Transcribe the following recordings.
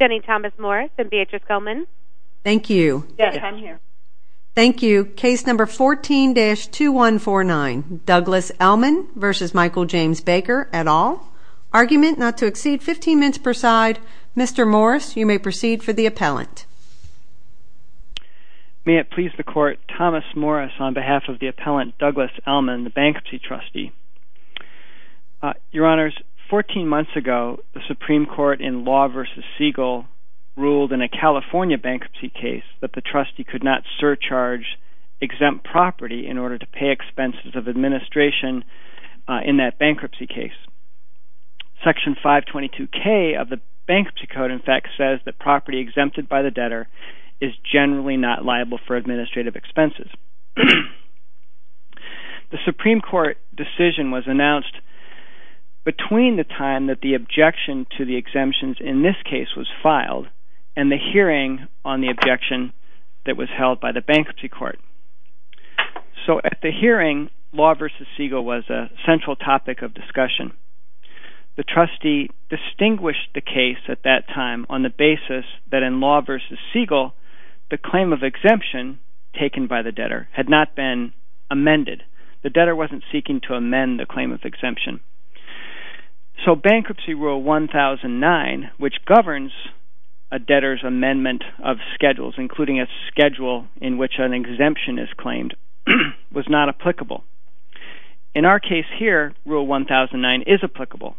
v. Thomas-Morris v. Gell-Mann 14-2149 Douglas Ellmann v. Michael James Baker Argument not to exceed 15 minutes per side. Mr. Morris, you may proceed for the appellant. May it please the Court, Thomas Morris on behalf of the appellant Douglas Ellmann, the bankruptcy trustee. Your Honors, 14 months ago, the Supreme Court in Law v. Siegel ruled in a California bankruptcy case that the trustee could not surcharge exempt property in order to pay expenses of administration in that bankruptcy case. Section 522K of the Bankruptcy Code, in fact, says that property exempted by the debtor is generally not liable for administrative expenses. The Supreme Court decision was announced between the time that the objection to the exemptions in this case was filed and the hearing on the objection that was held by the bankruptcy court. So at the hearing, Law v. Siegel was a central topic of discussion. The trustee distinguished the case at that time on the basis that in Law v. Siegel, the claim of exemption taken by the debtor had not been amended. The debtor wasn't seeking to amend the claim of exemption. So Bankruptcy Rule 1009, which governs a debtor's amendment of schedules, including a schedule in which an exemption is claimed, was not applicable. In our case here, Rule 1009 is applicable,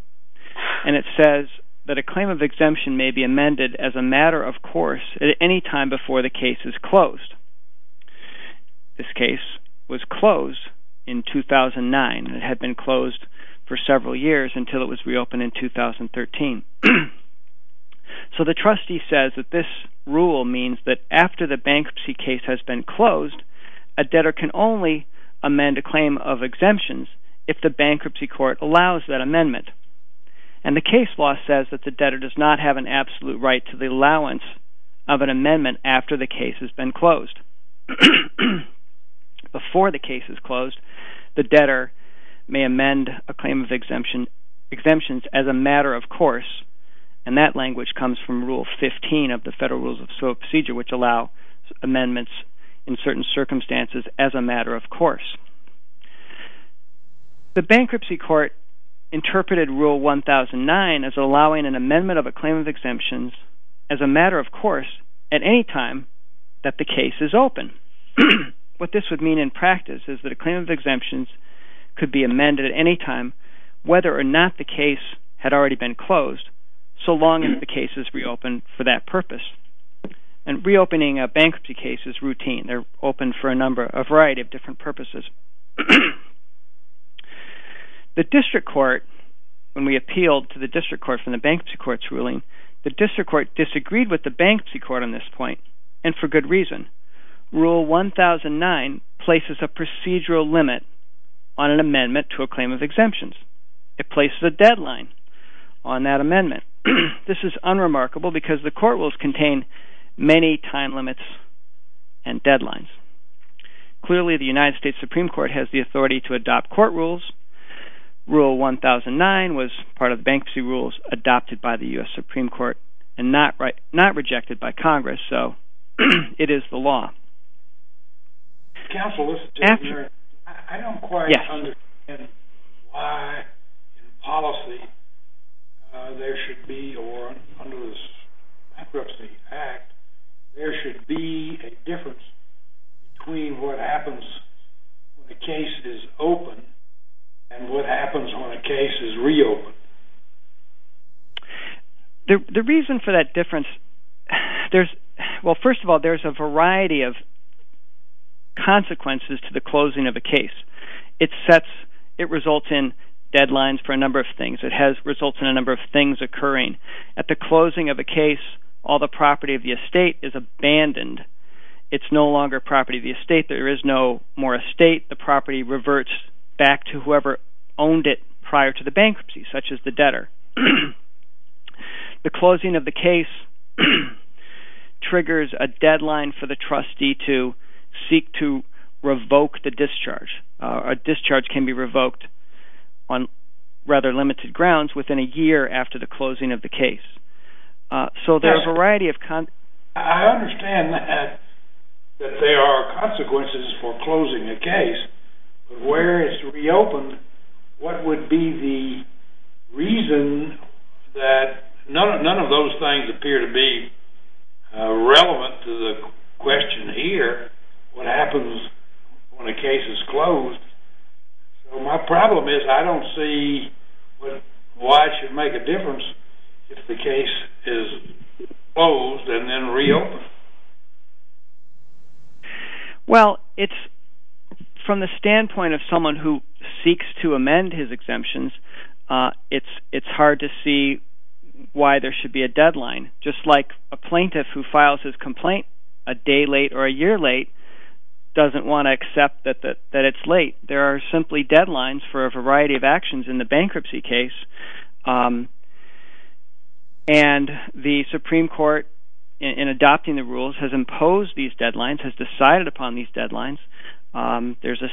and it says that a claim of exemption may be amended as a matter of course at any time before the case is closed. This case was closed in 2009. It had been closed for several years until it was reopened in 2013. So the trustee says that this rule means that after the bankruptcy case has been closed, a debtor can only amend a claim of exemptions if the bankruptcy court allows that amendment. And the case law says that the debtor does not have an absolute right to the allowance of an amendment after the case has been closed. Before the case is closed, the debtor may amend a claim of exemptions as a matter of course, and that language comes from Rule 15 of the Federal Rules of Procedure, which allow amendments in certain circumstances as a matter of course. The bankruptcy court interpreted Rule 1009 as allowing an amendment of a claim of exemptions as a matter of course at any time that the case is open. What this would mean in practice is that a claim of exemptions could be amended at any time, whether or not the case had already been closed, so long as the case is reopened for that purpose. And reopening a bankruptcy case is routine. They're open for a variety of different purposes. The district court, when we appealed to the district court for the bankruptcy court's ruling, the district court disagreed with the bankruptcy court on this point, and for good reason. Rule 1009 places a procedural limit on an amendment to a claim of exemptions. It places a deadline on that amendment. This is unremarkable because the court rules contain many time limits and deadlines. Clearly, the United States Supreme Court has the authority to adopt court rules. Rule 1009 was part of the bankruptcy rules adopted by the U.S. Supreme Court and not rejected by Congress, so it is the law. Counsel, I don't quite understand why in policy there should be, or under the Bankruptcy Act, there should be a difference between what happens when a case is open and what happens when a case is reopened. The reason for that difference, well, first of all, there's a variety of consequences to the closing of a case. It results in deadlines for a number of things. It results in a number of things occurring. At the closing of a case, all the property of the estate is abandoned. It's no longer property of the estate. There is no more estate. The property reverts back to whoever owned it prior to the bankruptcy, such as the debtor. The closing of the case triggers a deadline for the trustee to seek to revoke the discharge. A discharge can be revoked on rather limited grounds within a year after the closing of the case. I understand that there are consequences for closing a case, but where it's reopened, what would be the reason that none of those things appear to be relevant to the question here, what happens when a case is closed. My problem is I don't see why it should make a difference if the case is closed and then reopened. Well, from the standpoint of someone who seeks to amend his exemptions, it's hard to see why there should be a deadline. Just like a plaintiff who files his complaint a day late or a year late doesn't want to accept that it's late. There are simply deadlines for a variety of actions in the bankruptcy case. The Supreme Court, in adopting the rules, has imposed these deadlines, has decided upon these deadlines. Of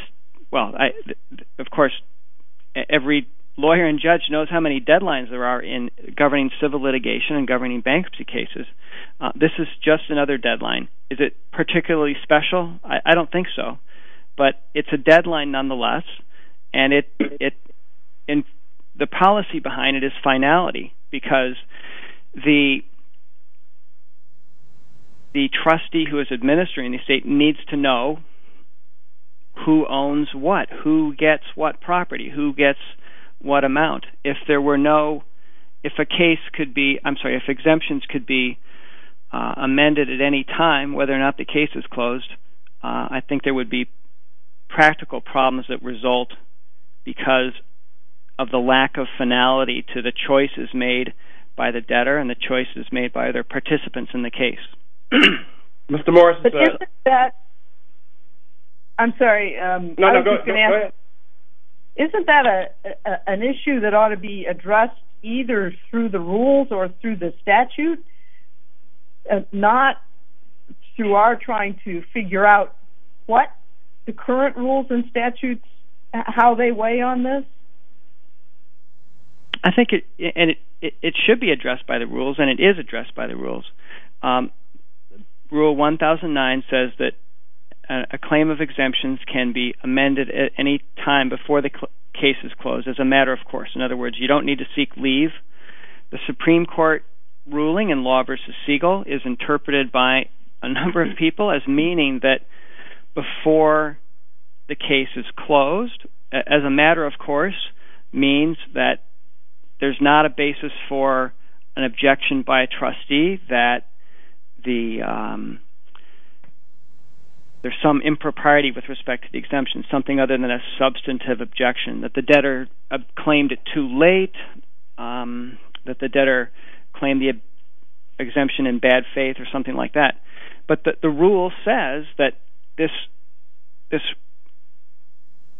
course, every lawyer and judge knows how many deadlines there are in governing civil litigation and governing bankruptcy cases. This is just another deadline. Is it particularly special? I don't think so, but it's a deadline nonetheless. The policy behind it is finality because the trustee who is administering the estate needs to know who owns what, who gets what property, who gets what amount. If exemptions could be amended at any time, whether or not the case is closed, I think there would be practical problems that result because of the lack of finality to the choices made by the debtor and the choices made by other participants in the case. Isn't that an issue that ought to be addressed either through the rules or through the statute? Not through our trying to figure out what the current rules and statutes, how they weigh on this? I think it should be addressed by the rules and it is addressed by the rules. Rule 1009 says that a claim of exemptions can be amended at any time before the case is closed, as a matter of course. In other words, you don't need to seek leave. The Supreme Court ruling in Law v. Siegel is interpreted by a number of people as meaning that before the case is closed, as a matter of course, means that there's not a basis for an objection by a trustee that there's some impropriety with respect to the exemption, something other than a substantive objection. That the debtor claimed it too late, that the debtor claimed the exemption in bad faith or something like that. But the rule says that this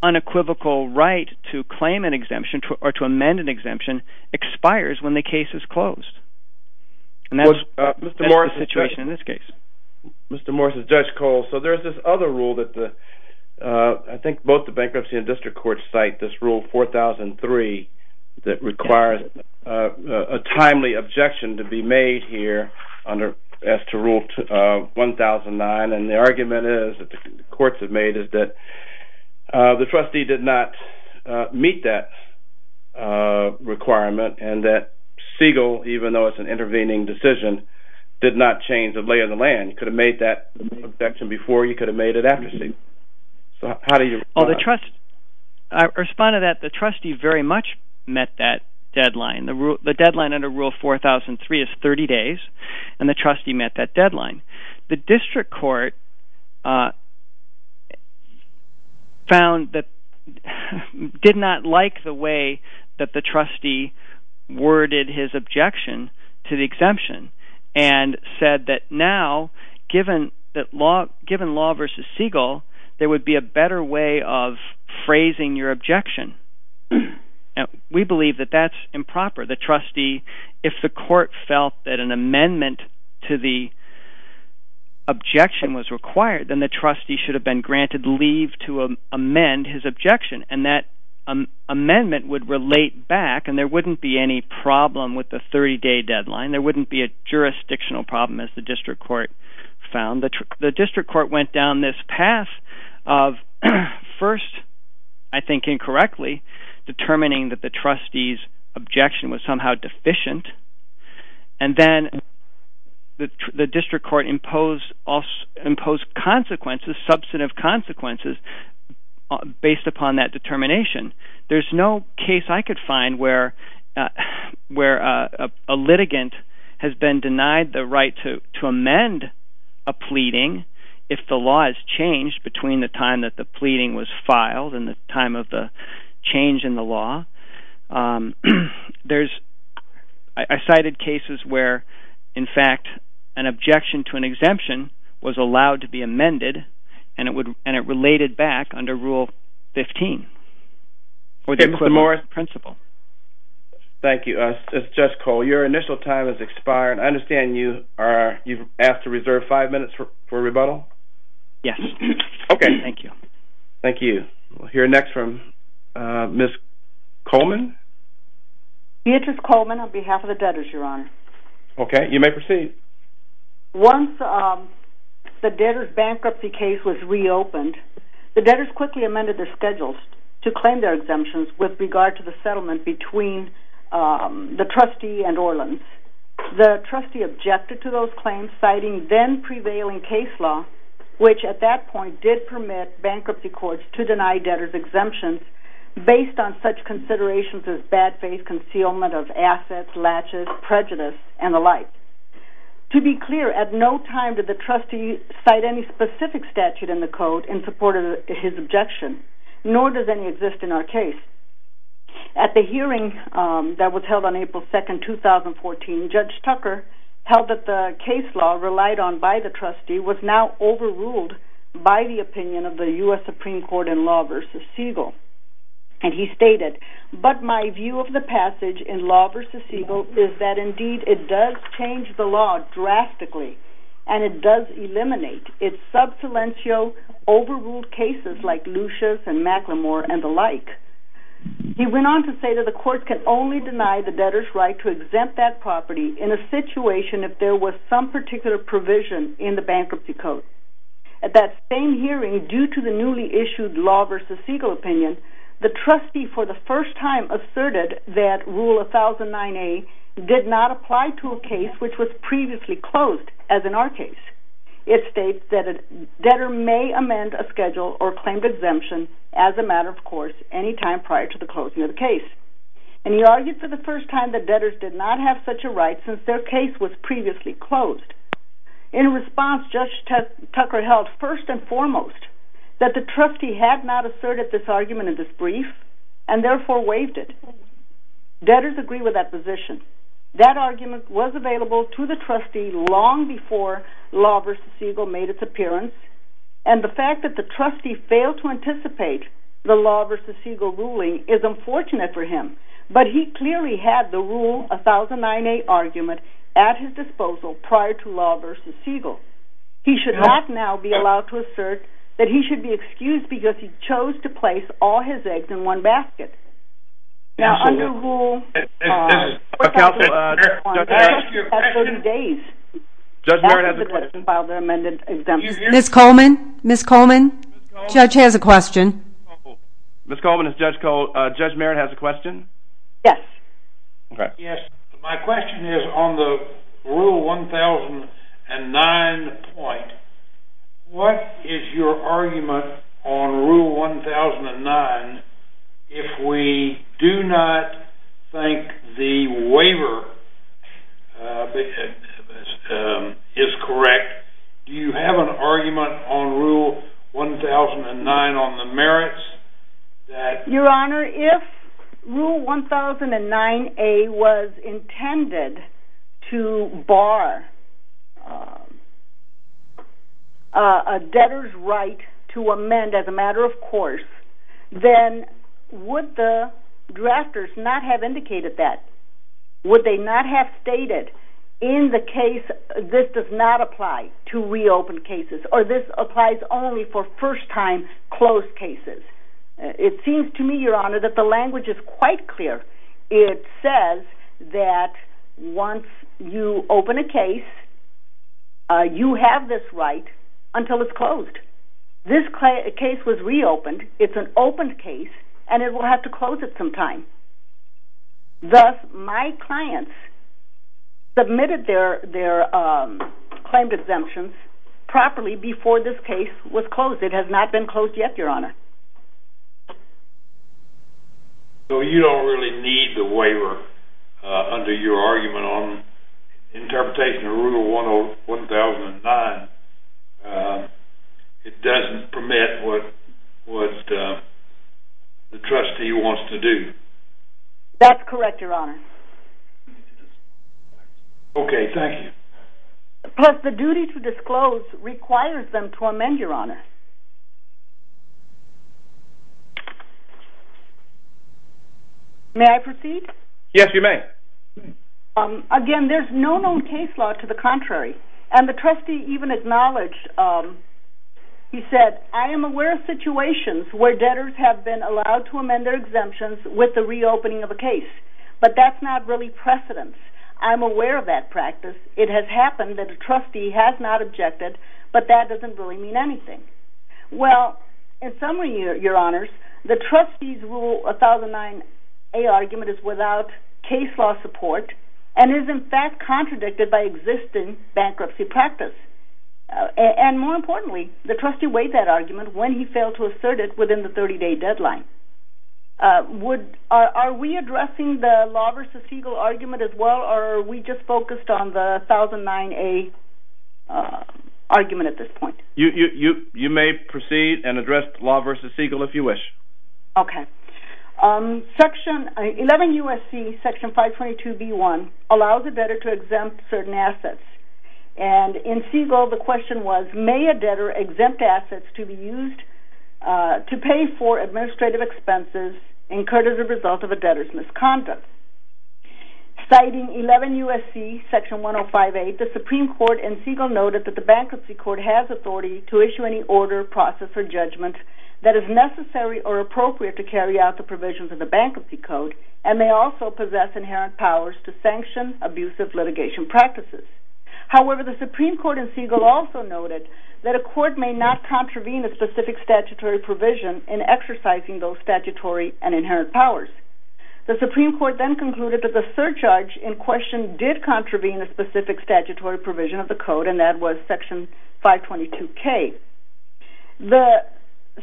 unequivocal right to claim an exemption or to amend an exemption expires when the case is closed. And that's the situation in this case. Mr. Morris, this is Judge Cole. So there's this other rule that I think both the bankruptcy and district courts cite, this rule 4003, that requires a timely objection to be made here as to rule 1009. And the argument that the courts have made is that the trustee did not meet that requirement and that Siegel, even though it's an intervening decision, did not change the lay of the land. He could have made that objection before, he could have made it after Siegel. So how do you respond? I respond to that the trustee very much met that deadline. The deadline under rule 4003 is 30 days, and the trustee met that deadline. The district court found that, did not like the way that the trustee worded his objection to the exemption. And said that now, given law versus Siegel, there would be a better way of phrasing your objection. We believe that that's improper. The trustee, if the court felt that an amendment to the objection was required, then the trustee should have been granted leave to amend his objection. And that amendment would relate back, and there wouldn't be any problem with the 30-day deadline. There wouldn't be a jurisdictional problem, as the district court found. The district court went down this path of first, I think incorrectly, determining that the trustee's objection was somehow deficient. And then the district court imposed consequences, substantive consequences, based upon that determination. There's no case I could find where a litigant has been denied the right to amend a pleading if the law is changed between the time that the pleading was filed and the time of the change in the law. I cited cases where, in fact, an objection to an exemption was allowed to be amended, and it related back under Rule 15. Thank you. Judge Cole, your initial time has expired. I understand you've asked to reserve five minutes for rebuttal? Yes. Okay. Thank you. Thank you. We'll hear next from Ms. Coleman. Beatrice Coleman on behalf of the debtors, Your Honor. Okay. You may proceed. Once the debtors' bankruptcy case was reopened, the debtors quickly amended their schedules to claim their exemptions with regard to the settlement between the trustee and Orleans. The trustee objected to those claims, citing then-prevailing case law, which at that point did permit bankruptcy courts to deny debtors exemptions based on such considerations as bad faith concealment of assets, latches, prejudice, and the like. To be clear, at no time did the trustee cite any specific statute in the code in support of his objection, nor does any exist in our case. At the hearing that was held on April 2, 2014, Judge Tucker held that the case law relied on by the trustee was now overruled by the opinion of the U.S. Supreme Court in Law v. Siegel, and he stated, but my view of the passage in Law v. Siegel is that, indeed, it does change the law drastically, and it does eliminate its sub salientio overruled cases like Lucia's and McLemore and the like. He went on to say that the court can only deny the debtors' right to exempt that property in a situation if there was some particular provision in the bankruptcy code. At that same hearing, due to the newly issued Law v. Siegel opinion, the trustee for the first time asserted that Rule 1009A did not apply to a case which was previously closed, as in our case. It states that a debtor may amend a schedule or claim exemption as a matter of course any time prior to the closing of the case. And he argued for the first time that debtors did not have such a right since their case was previously closed. In response, Judge Tucker held, first and foremost, that the trustee had not asserted this argument in this brief, and therefore waived it. Debtors agree with that position. That argument was available to the trustee long before Law v. Siegel made its appearance, and the fact that the trustee failed to anticipate the Law v. Siegel ruling is unfortunate for him. But he clearly had the Rule 1009A argument at his disposal prior to Law v. Siegel. He should not now be allowed to assert that he should be excused because he chose to place all his eggs in one basket. Now under Rule 1009A... Counsel, Judge Merritt has a question. Judge Merritt has a question. Ms. Coleman? Ms. Coleman? Judge has a question. Ms. Coleman, is Judge Merritt has a question? Yes. My question is on the Rule 1009 point. What is your argument on Rule 1009 if we do not think the waiver is correct? Do you have an argument on Rule 1009 on the merits that... Your Honor, if Rule 1009A was intended to bar a debtor's right to amend as a matter of course, then would the drafters not have indicated that? Would they not have stated in the case, this does not apply to reopened cases, or this applies only for first-time closed cases? It seems to me, Your Honor, that the language is quite clear. It says that once you open a case, you have this right until it's closed. This case was reopened, it's an opened case, and it will have to close at some time. Thus, my clients submitted their claimed exemptions properly before this case was closed. It has not been closed yet, Your Honor. So you don't really need the waiver under your argument on interpretation of Rule 1009. It doesn't permit what the trustee wants to do. That's correct, Your Honor. Okay, thank you. Plus, the duty to disclose requires them to amend, Your Honor. May I proceed? Yes, you may. Again, there's no known case law to the contrary. And the trustee even acknowledged, he said, I am aware of situations where debtors have been allowed to amend their exemptions with the reopening of a case. But that's not really precedence. I'm aware of that practice. It has happened that a trustee has not objected, but that doesn't really mean anything. Well, in summary, Your Honors, the trustee's Rule 1009A argument is without case law support and is, in fact, contradicted by existing bankruptcy practice. And more importantly, the trustee weighed that argument when he failed to assert it within the 30-day deadline. Are we addressing the Law v. Siegel argument as well, or are we just focused on the 1009A argument at this point? You may proceed and address Law v. Siegel if you wish. Okay. 11 U.S.C. Section 522b1 allows a debtor to exempt certain assets. And in Siegel, the question was, May a debtor exempt assets to be used to pay for administrative expenses incurred as a result of a debtor's misconduct? Citing 11 U.S.C. Section 105a, the Supreme Court in Siegel noted that the bankruptcy court has authority to issue any order, process, or judgment that is necessary or appropriate to carry out the provisions of the Bankruptcy Code and may also possess inherent powers to sanction abusive litigation practices. However, the Supreme Court in Siegel also noted that a court may not contravene a specific statutory provision in exercising those statutory and inherent powers. The Supreme Court then concluded that the surcharge in question did contravene a specific statutory provision of the Code, and that was Section 522k. The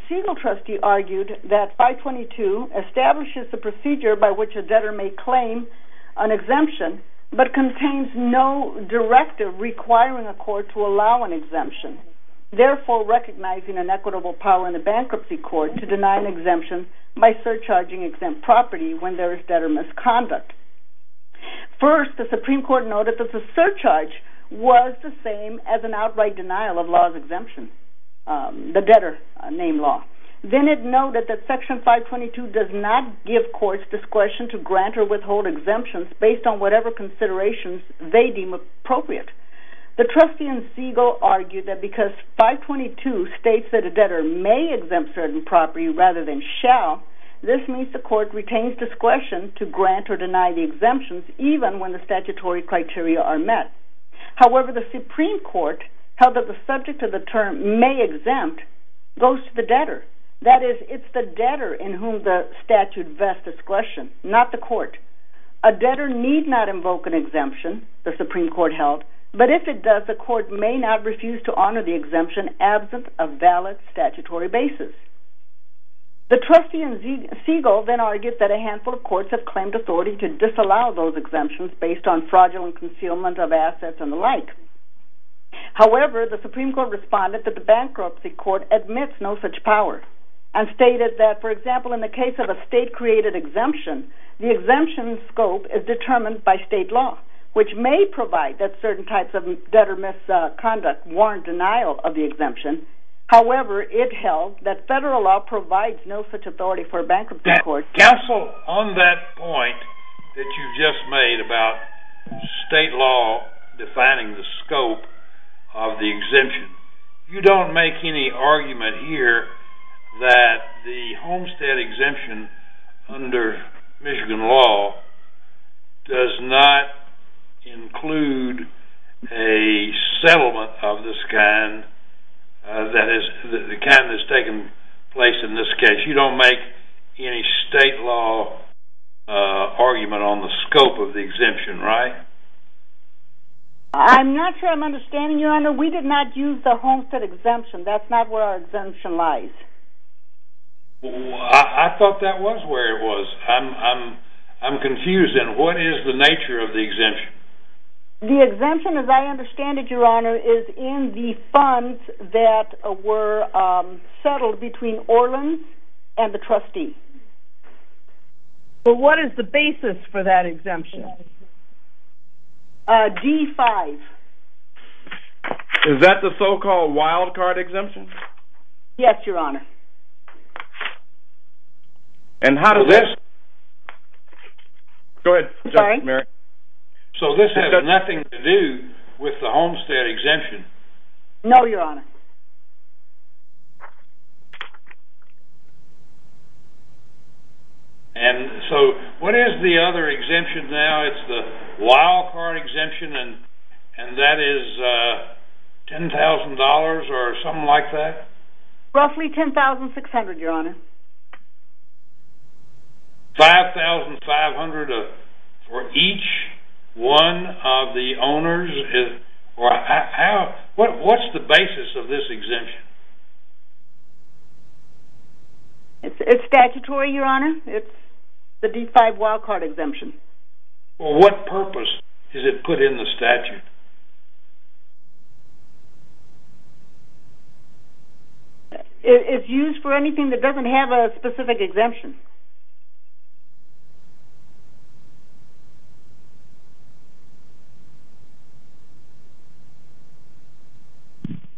Siegel trustee argued that 522 establishes the procedure by which a debtor may claim an exemption but contains no directive requiring a court to allow an exemption, therefore recognizing an equitable power in the bankruptcy court to deny an exemption by surcharging exempt property when there is debtor misconduct. First, the Supreme Court noted that the surcharge was the same as an outright denial of the debtor-named law. Then it noted that Section 522 does not give courts discretion to grant or withhold exemptions based on whatever considerations they deem appropriate. The trustee in Siegel argued that because 522 states that a debtor may exempt certain property rather than shall, this means the court retains discretion to grant or deny the exemptions even when the statutory criteria are met. However, the Supreme Court held that the subject of the term may exempt goes to the debtor. That is, it's the debtor in whom the statute vests discretion, not the court. A debtor need not invoke an exemption, the Supreme Court held, but if it does, the court may not refuse to honor the exemption absent a valid statutory basis. The trustee in Siegel then argued that a handful of courts have claimed authority to disallow those exemptions based on fraudulent concealment of assets and the like. However, the Supreme Court responded that the bankruptcy court admits no such power and stated that, for example, in the case of a state-created exemption, the exemption scope is determined by state law, which may provide that certain types of debtor misconduct warrant denial of the exemption. However, it held that federal law provides no such authority for a bankruptcy court. Counsel, on that point that you just made about state law defining the scope of the exemption, you don't make any argument here that the Homestead Exemption under Michigan law does not include a settlement of this kind, that is, the kind that's taken place in this case. You don't make any state law argument on the scope of the exemption, right? I'm not sure I'm understanding, Your Honor. We did not use the Homestead Exemption. That's not where our exemption lies. I thought that was where it was. I'm confused, then. What is the nature of the exemption? The exemption, as I understand it, Your Honor, is in the funds that were settled between Orleans and the trustee. But what is the basis for that exemption? G-5. Is that the so-called wild-card exemption? Yes, Your Honor. And how does this... Go ahead, Judge Merrick. So this has nothing to do with the Homestead Exemption? No, Your Honor. And so what is the other exemption now? It's the wild-card exemption, and that is $10,000 or something like that? Roughly $10,600, Your Honor. $5,500 for each one of the owners? What's the basis of this exemption? It's statutory, Your Honor. It's the D-5 wild-card exemption. Well, what purpose is it put in the statute? It's used for anything that doesn't have a specific exemption.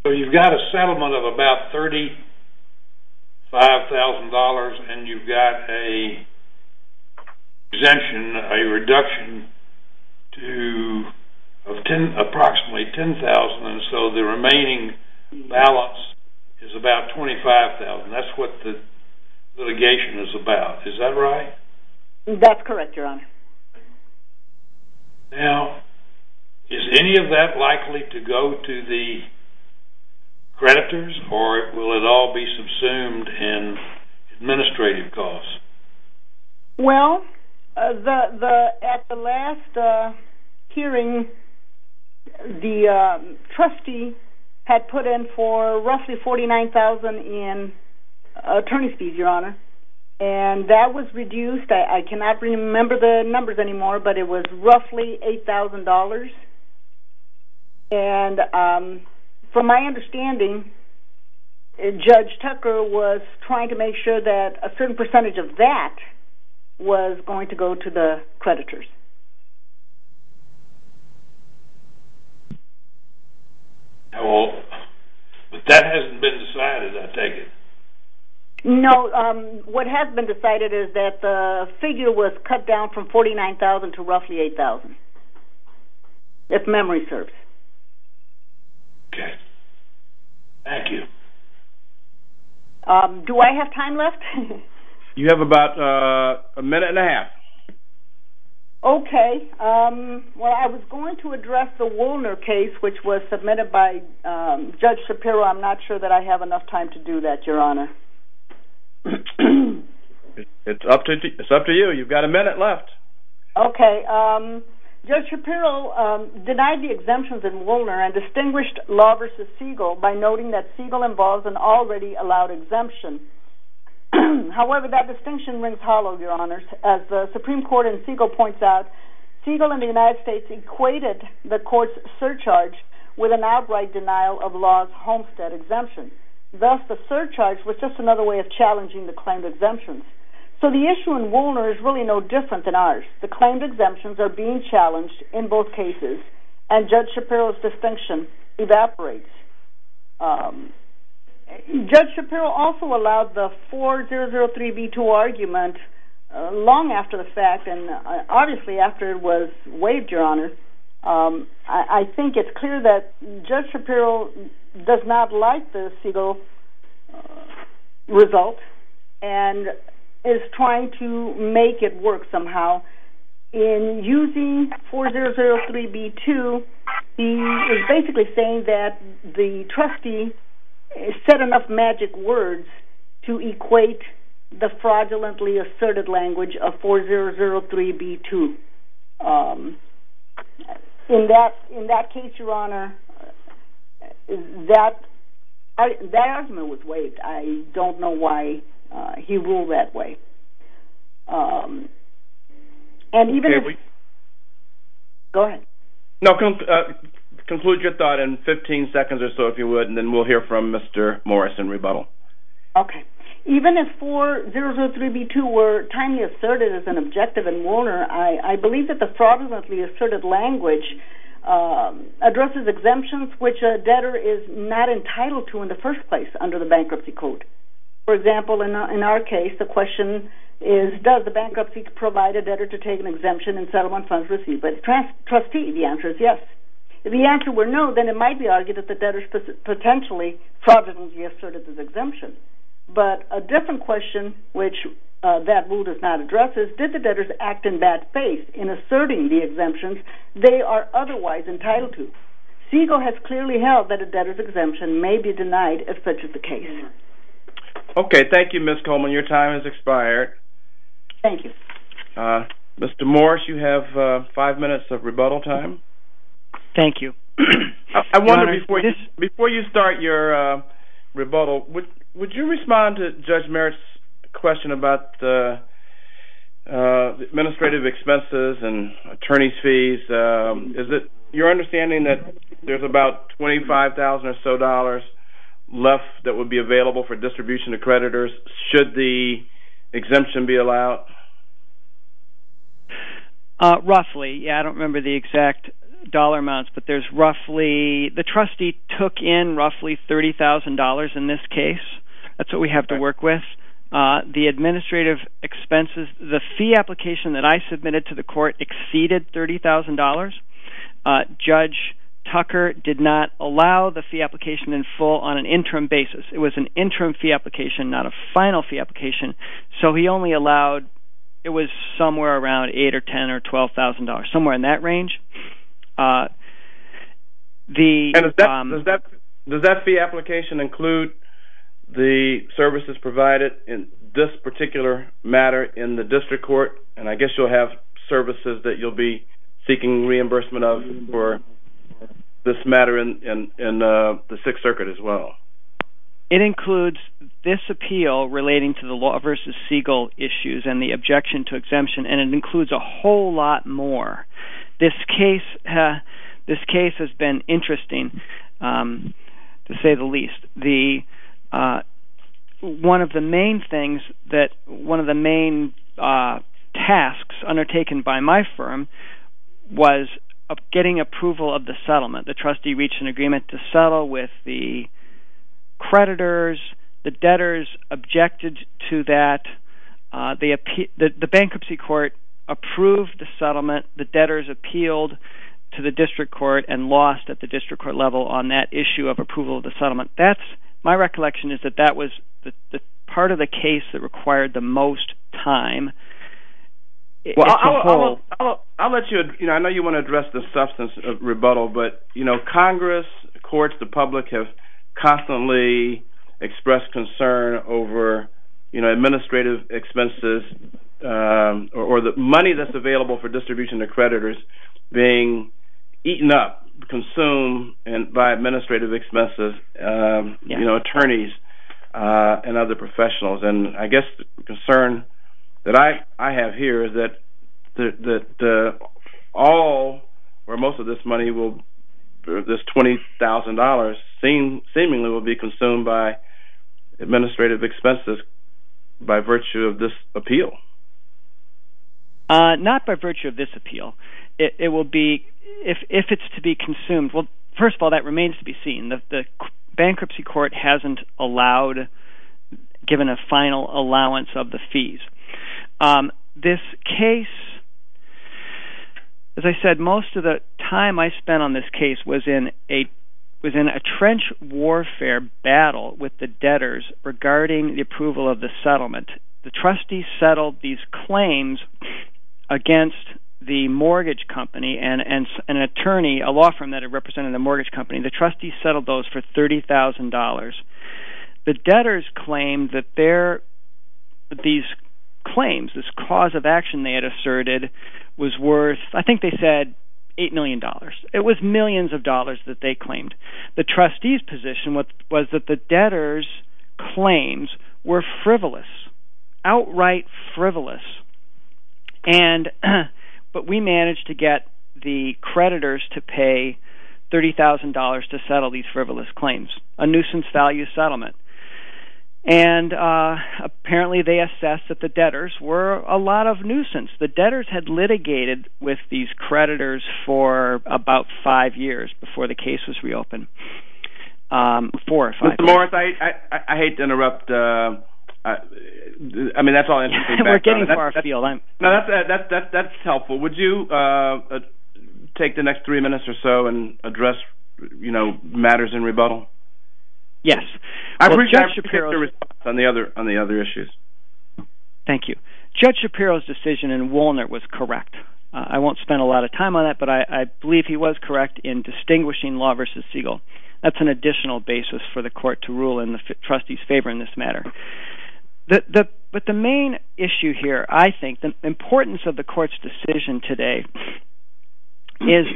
So you've got a settlement of about $35,000, and you've got an exemption, a reduction of approximately $10,000, and so the remaining balance is about $25,000. Is that right? That's correct, Your Honor. Now, is any of that likely to go to the creditors, or will it all be subsumed in administrative costs? Well, at the last hearing, the trustee had put in for roughly $49,000 in attorney's fees, Your Honor, and that was reduced. I cannot remember the numbers anymore, but it was roughly $8,000. And from my understanding, Judge Tucker was trying to make sure that a certain percentage of that was going to go to the creditors. Well, but that hasn't been decided, I take it. No. What has been decided is that the figure was cut down from $49,000 to roughly $8,000, if memory serves. Okay. Thank you. Do I have time left? You have about a minute and a half. Okay. Well, I was going to address the Woolner case, which was submitted by Judge Shapiro. I'm not sure that I have enough time to do that, Your Honor. It's up to you. You've got a minute left. Okay. Judge Shapiro denied the exemptions in Woolner and distinguished Law v. Siegel by noting that Siegel involves an already allowed exemption. However, that distinction rings hollow, Your Honors. As the Supreme Court in Siegel points out, Siegel and the United States equated the court's surcharge with an outright denial of Law's Homestead exemption. Thus, the surcharge was just another way of challenging the claimed exemptions. So the issue in Woolner is really no different than ours. The claimed exemptions are being challenged in both cases, and Judge Shapiro's distinction evaporates. Judge Shapiro also allowed the 4003b2 argument long after the fact, and obviously after it was waived, Your Honor. I think it's clear that Judge Shapiro does not like the Siegel result and is trying to make it work somehow. In using 4003b2, he is basically saying that the trustee said enough magic words to equate the fraudulently asserted language of 4003b2. In that case, Your Honor, that argument was waived. I don't know why he ruled that way. Go ahead. No, conclude your thought in 15 seconds or so, if you would, and then we'll hear from Mr. Morris in rebuttal. Okay. Even if 4003b2 were timely asserted as an objective in Woolner, I believe that the fraudulently asserted language addresses exemptions which a debtor is not entitled to in the first place under the bankruptcy code. For example, in our case, the question is, does the bankruptcy provide a debtor to take an exemption in settlement funds received by the trustee? The answer is yes. If the answer were no, then it might be argued that the debtor potentially fraudulently asserted this exemption. But a different question which that rule does not address is, did the debtors act in bad faith in asserting the exemptions they are otherwise entitled to? Segal has clearly held that a debtor's exemption may be denied if such is the case. Okay. Thank you, Ms. Coleman. Your time has expired. Thank you. Mr. Morris, you have five minutes of rebuttal time. Thank you. I wonder, before you start your rebuttal, and attorney's fees? Is it your understanding that there's about $25,000 or so left that would be available for distribution to creditors? Should the exemption be allowed? Roughly, yeah. I don't remember the exact dollar amounts, but there's roughly, the trustee took in roughly $30,000 in this case. That's what we have to work with. The administrative expenses, the fee application that I submitted to the court exceeded $30,000. Judge Tucker did not allow the fee application in full on an interim basis. It was an interim fee application, not a final fee application. So he only allowed, it was somewhere around $8,000 or $10,000 or $12,000, somewhere in that range. Does that fee application include the services provided in this particular matter in the district court? And I guess you'll have services that you'll be seeking reimbursement of for this matter in the Sixth Circuit as well. It includes this appeal relating to the Law v. Siegel issues and the objection to exemption, and it includes a whole lot more. This case has been interesting, to say the least. One of the main tasks undertaken by my firm was getting approval of the settlement. The trustee reached an agreement to settle with the creditors. The debtors objected to that. The bankruptcy court approved the settlement. The debtors appealed to the district court and lost at the district court level on that issue of approval of the settlement. My recollection is that that was part of the case that required the most time. I'll let you, I know you want to address the substance of rebuttal, but Congress, courts, the public have constantly expressed concern being eaten up, consumed by administrative expenses, attorneys and other professionals. I guess the concern that I have here is that all or most of this money, this $20,000, seemingly will be consumed by administrative expenses by virtue of this appeal. Not by virtue of this appeal. It will be, if it's to be consumed, well, first of all, that remains to be seen. The bankruptcy court hasn't allowed, given a final allowance of the fees. This case, as I said, most of the time I spent on this case was in a trench warfare battle with the debtors regarding the approval of the settlement. The trustees settled these claims against the mortgage company and an attorney, a law firm that represented the mortgage company, the trustees settled those for $30,000. The debtors claimed that these claims, this cause of action they had asserted, was worth, I think they said $8 million. It was millions of dollars that they claimed. The trustees' position was that the debtors' claims were frivolous. Outright frivolous. But we managed to get the creditors to pay $30,000 to settle these frivolous claims. A nuisance value settlement. Apparently they assessed that the debtors were a lot of nuisance. The debtors had litigated with these creditors for about five years before the case was reopened. Four or five years. Mr. Morris, I hate to interrupt. I mean that's all I have to say. We're getting far afield. That's helpful. Would you take the next three minutes or so and address matters in rebuttal? Yes. I appreciate your response on the other issues. Thank you. Judge Shapiro's decision in Walnut was correct. I won't spend a lot of time on that, but I believe he was correct in distinguishing Law v. Siegel. That's an additional basis for the court to rule in the trustees' favor in this matter. But the main issue here, I think, the importance of the court's decision today, is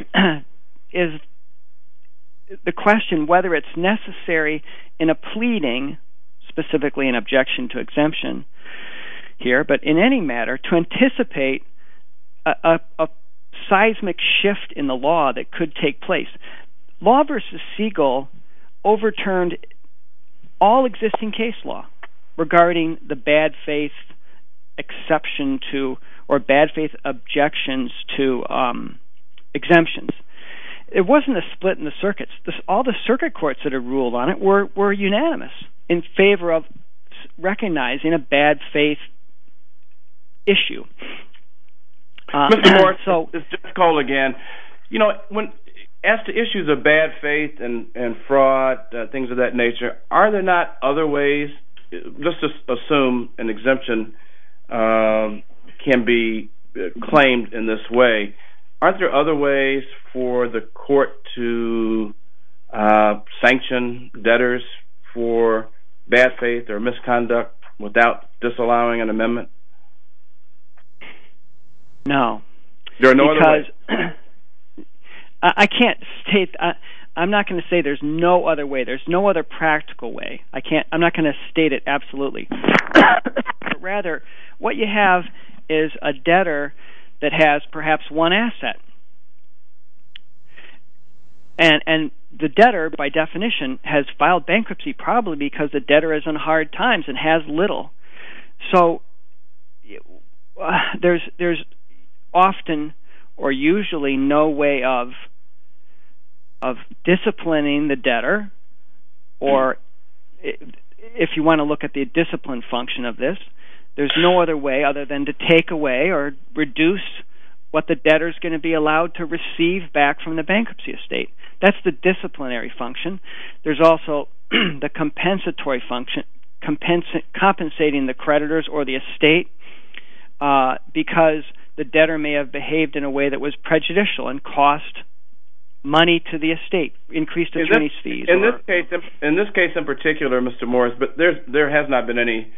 the question whether it's necessary in a pleading, specifically an objection to exemption here, but in any matter to anticipate a seismic shift in the law that could take place. Law v. Siegel overturned all existing case law regarding the bad faith exception to or bad faith objections to exemptions. It wasn't a split in the circuits. All the circuit courts that have ruled on it were unanimous in favor of recognizing a bad faith issue. Mr. Moore, it's just Cole again. You know, as to issues of bad faith and fraud, things of that nature, are there not other ways? Let's just assume an exemption can be claimed in this way. Aren't there other ways for the court to sanction debtors for bad faith or misconduct without disallowing an amendment? No, because I can't state – I'm not going to say there's no other way. There's no other practical way. I'm not going to state it absolutely. Rather, what you have is a debtor that has perhaps one asset. And the debtor, by definition, has filed bankruptcy probably because the debtor is on hard times and has little. So there's often or usually no way of disciplining the debtor. Or if you want to look at the discipline function of this, there's no other way other than to take away or reduce what the debtor is going to be allowed to receive back from the bankruptcy estate. That's the disciplinary function. There's also the compensatory function, compensating the creditors or the estate because the debtor may have behaved in a way that was prejudicial and cost money to the estate, increased attorney's fees. In this case in particular, Mr. Morris, there has not been any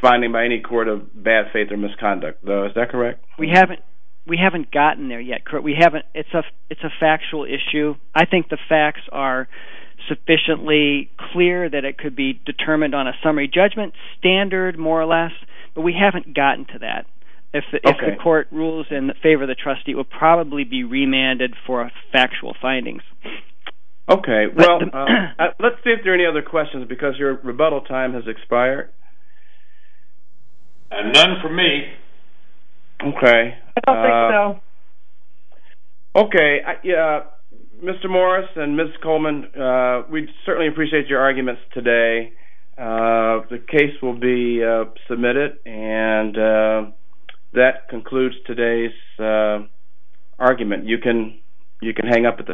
finding by any court of bad faith or misconduct, though. Is that correct? We haven't gotten there yet. It's a factual issue. I think the facts are sufficiently clear that it could be determined on a summary judgment standard, more or less. But we haven't gotten to that. If the court rules in favor of the trustee, it will probably be remanded for factual findings. Okay. Well, let's see if there are any other questions because your rebuttal time has expired. None for me. Okay. I don't think so. Okay. Mr. Morris and Ms. Coleman, we certainly appreciate your arguments today. The case will be submitted and that concludes today's argument. You can hang up at this time.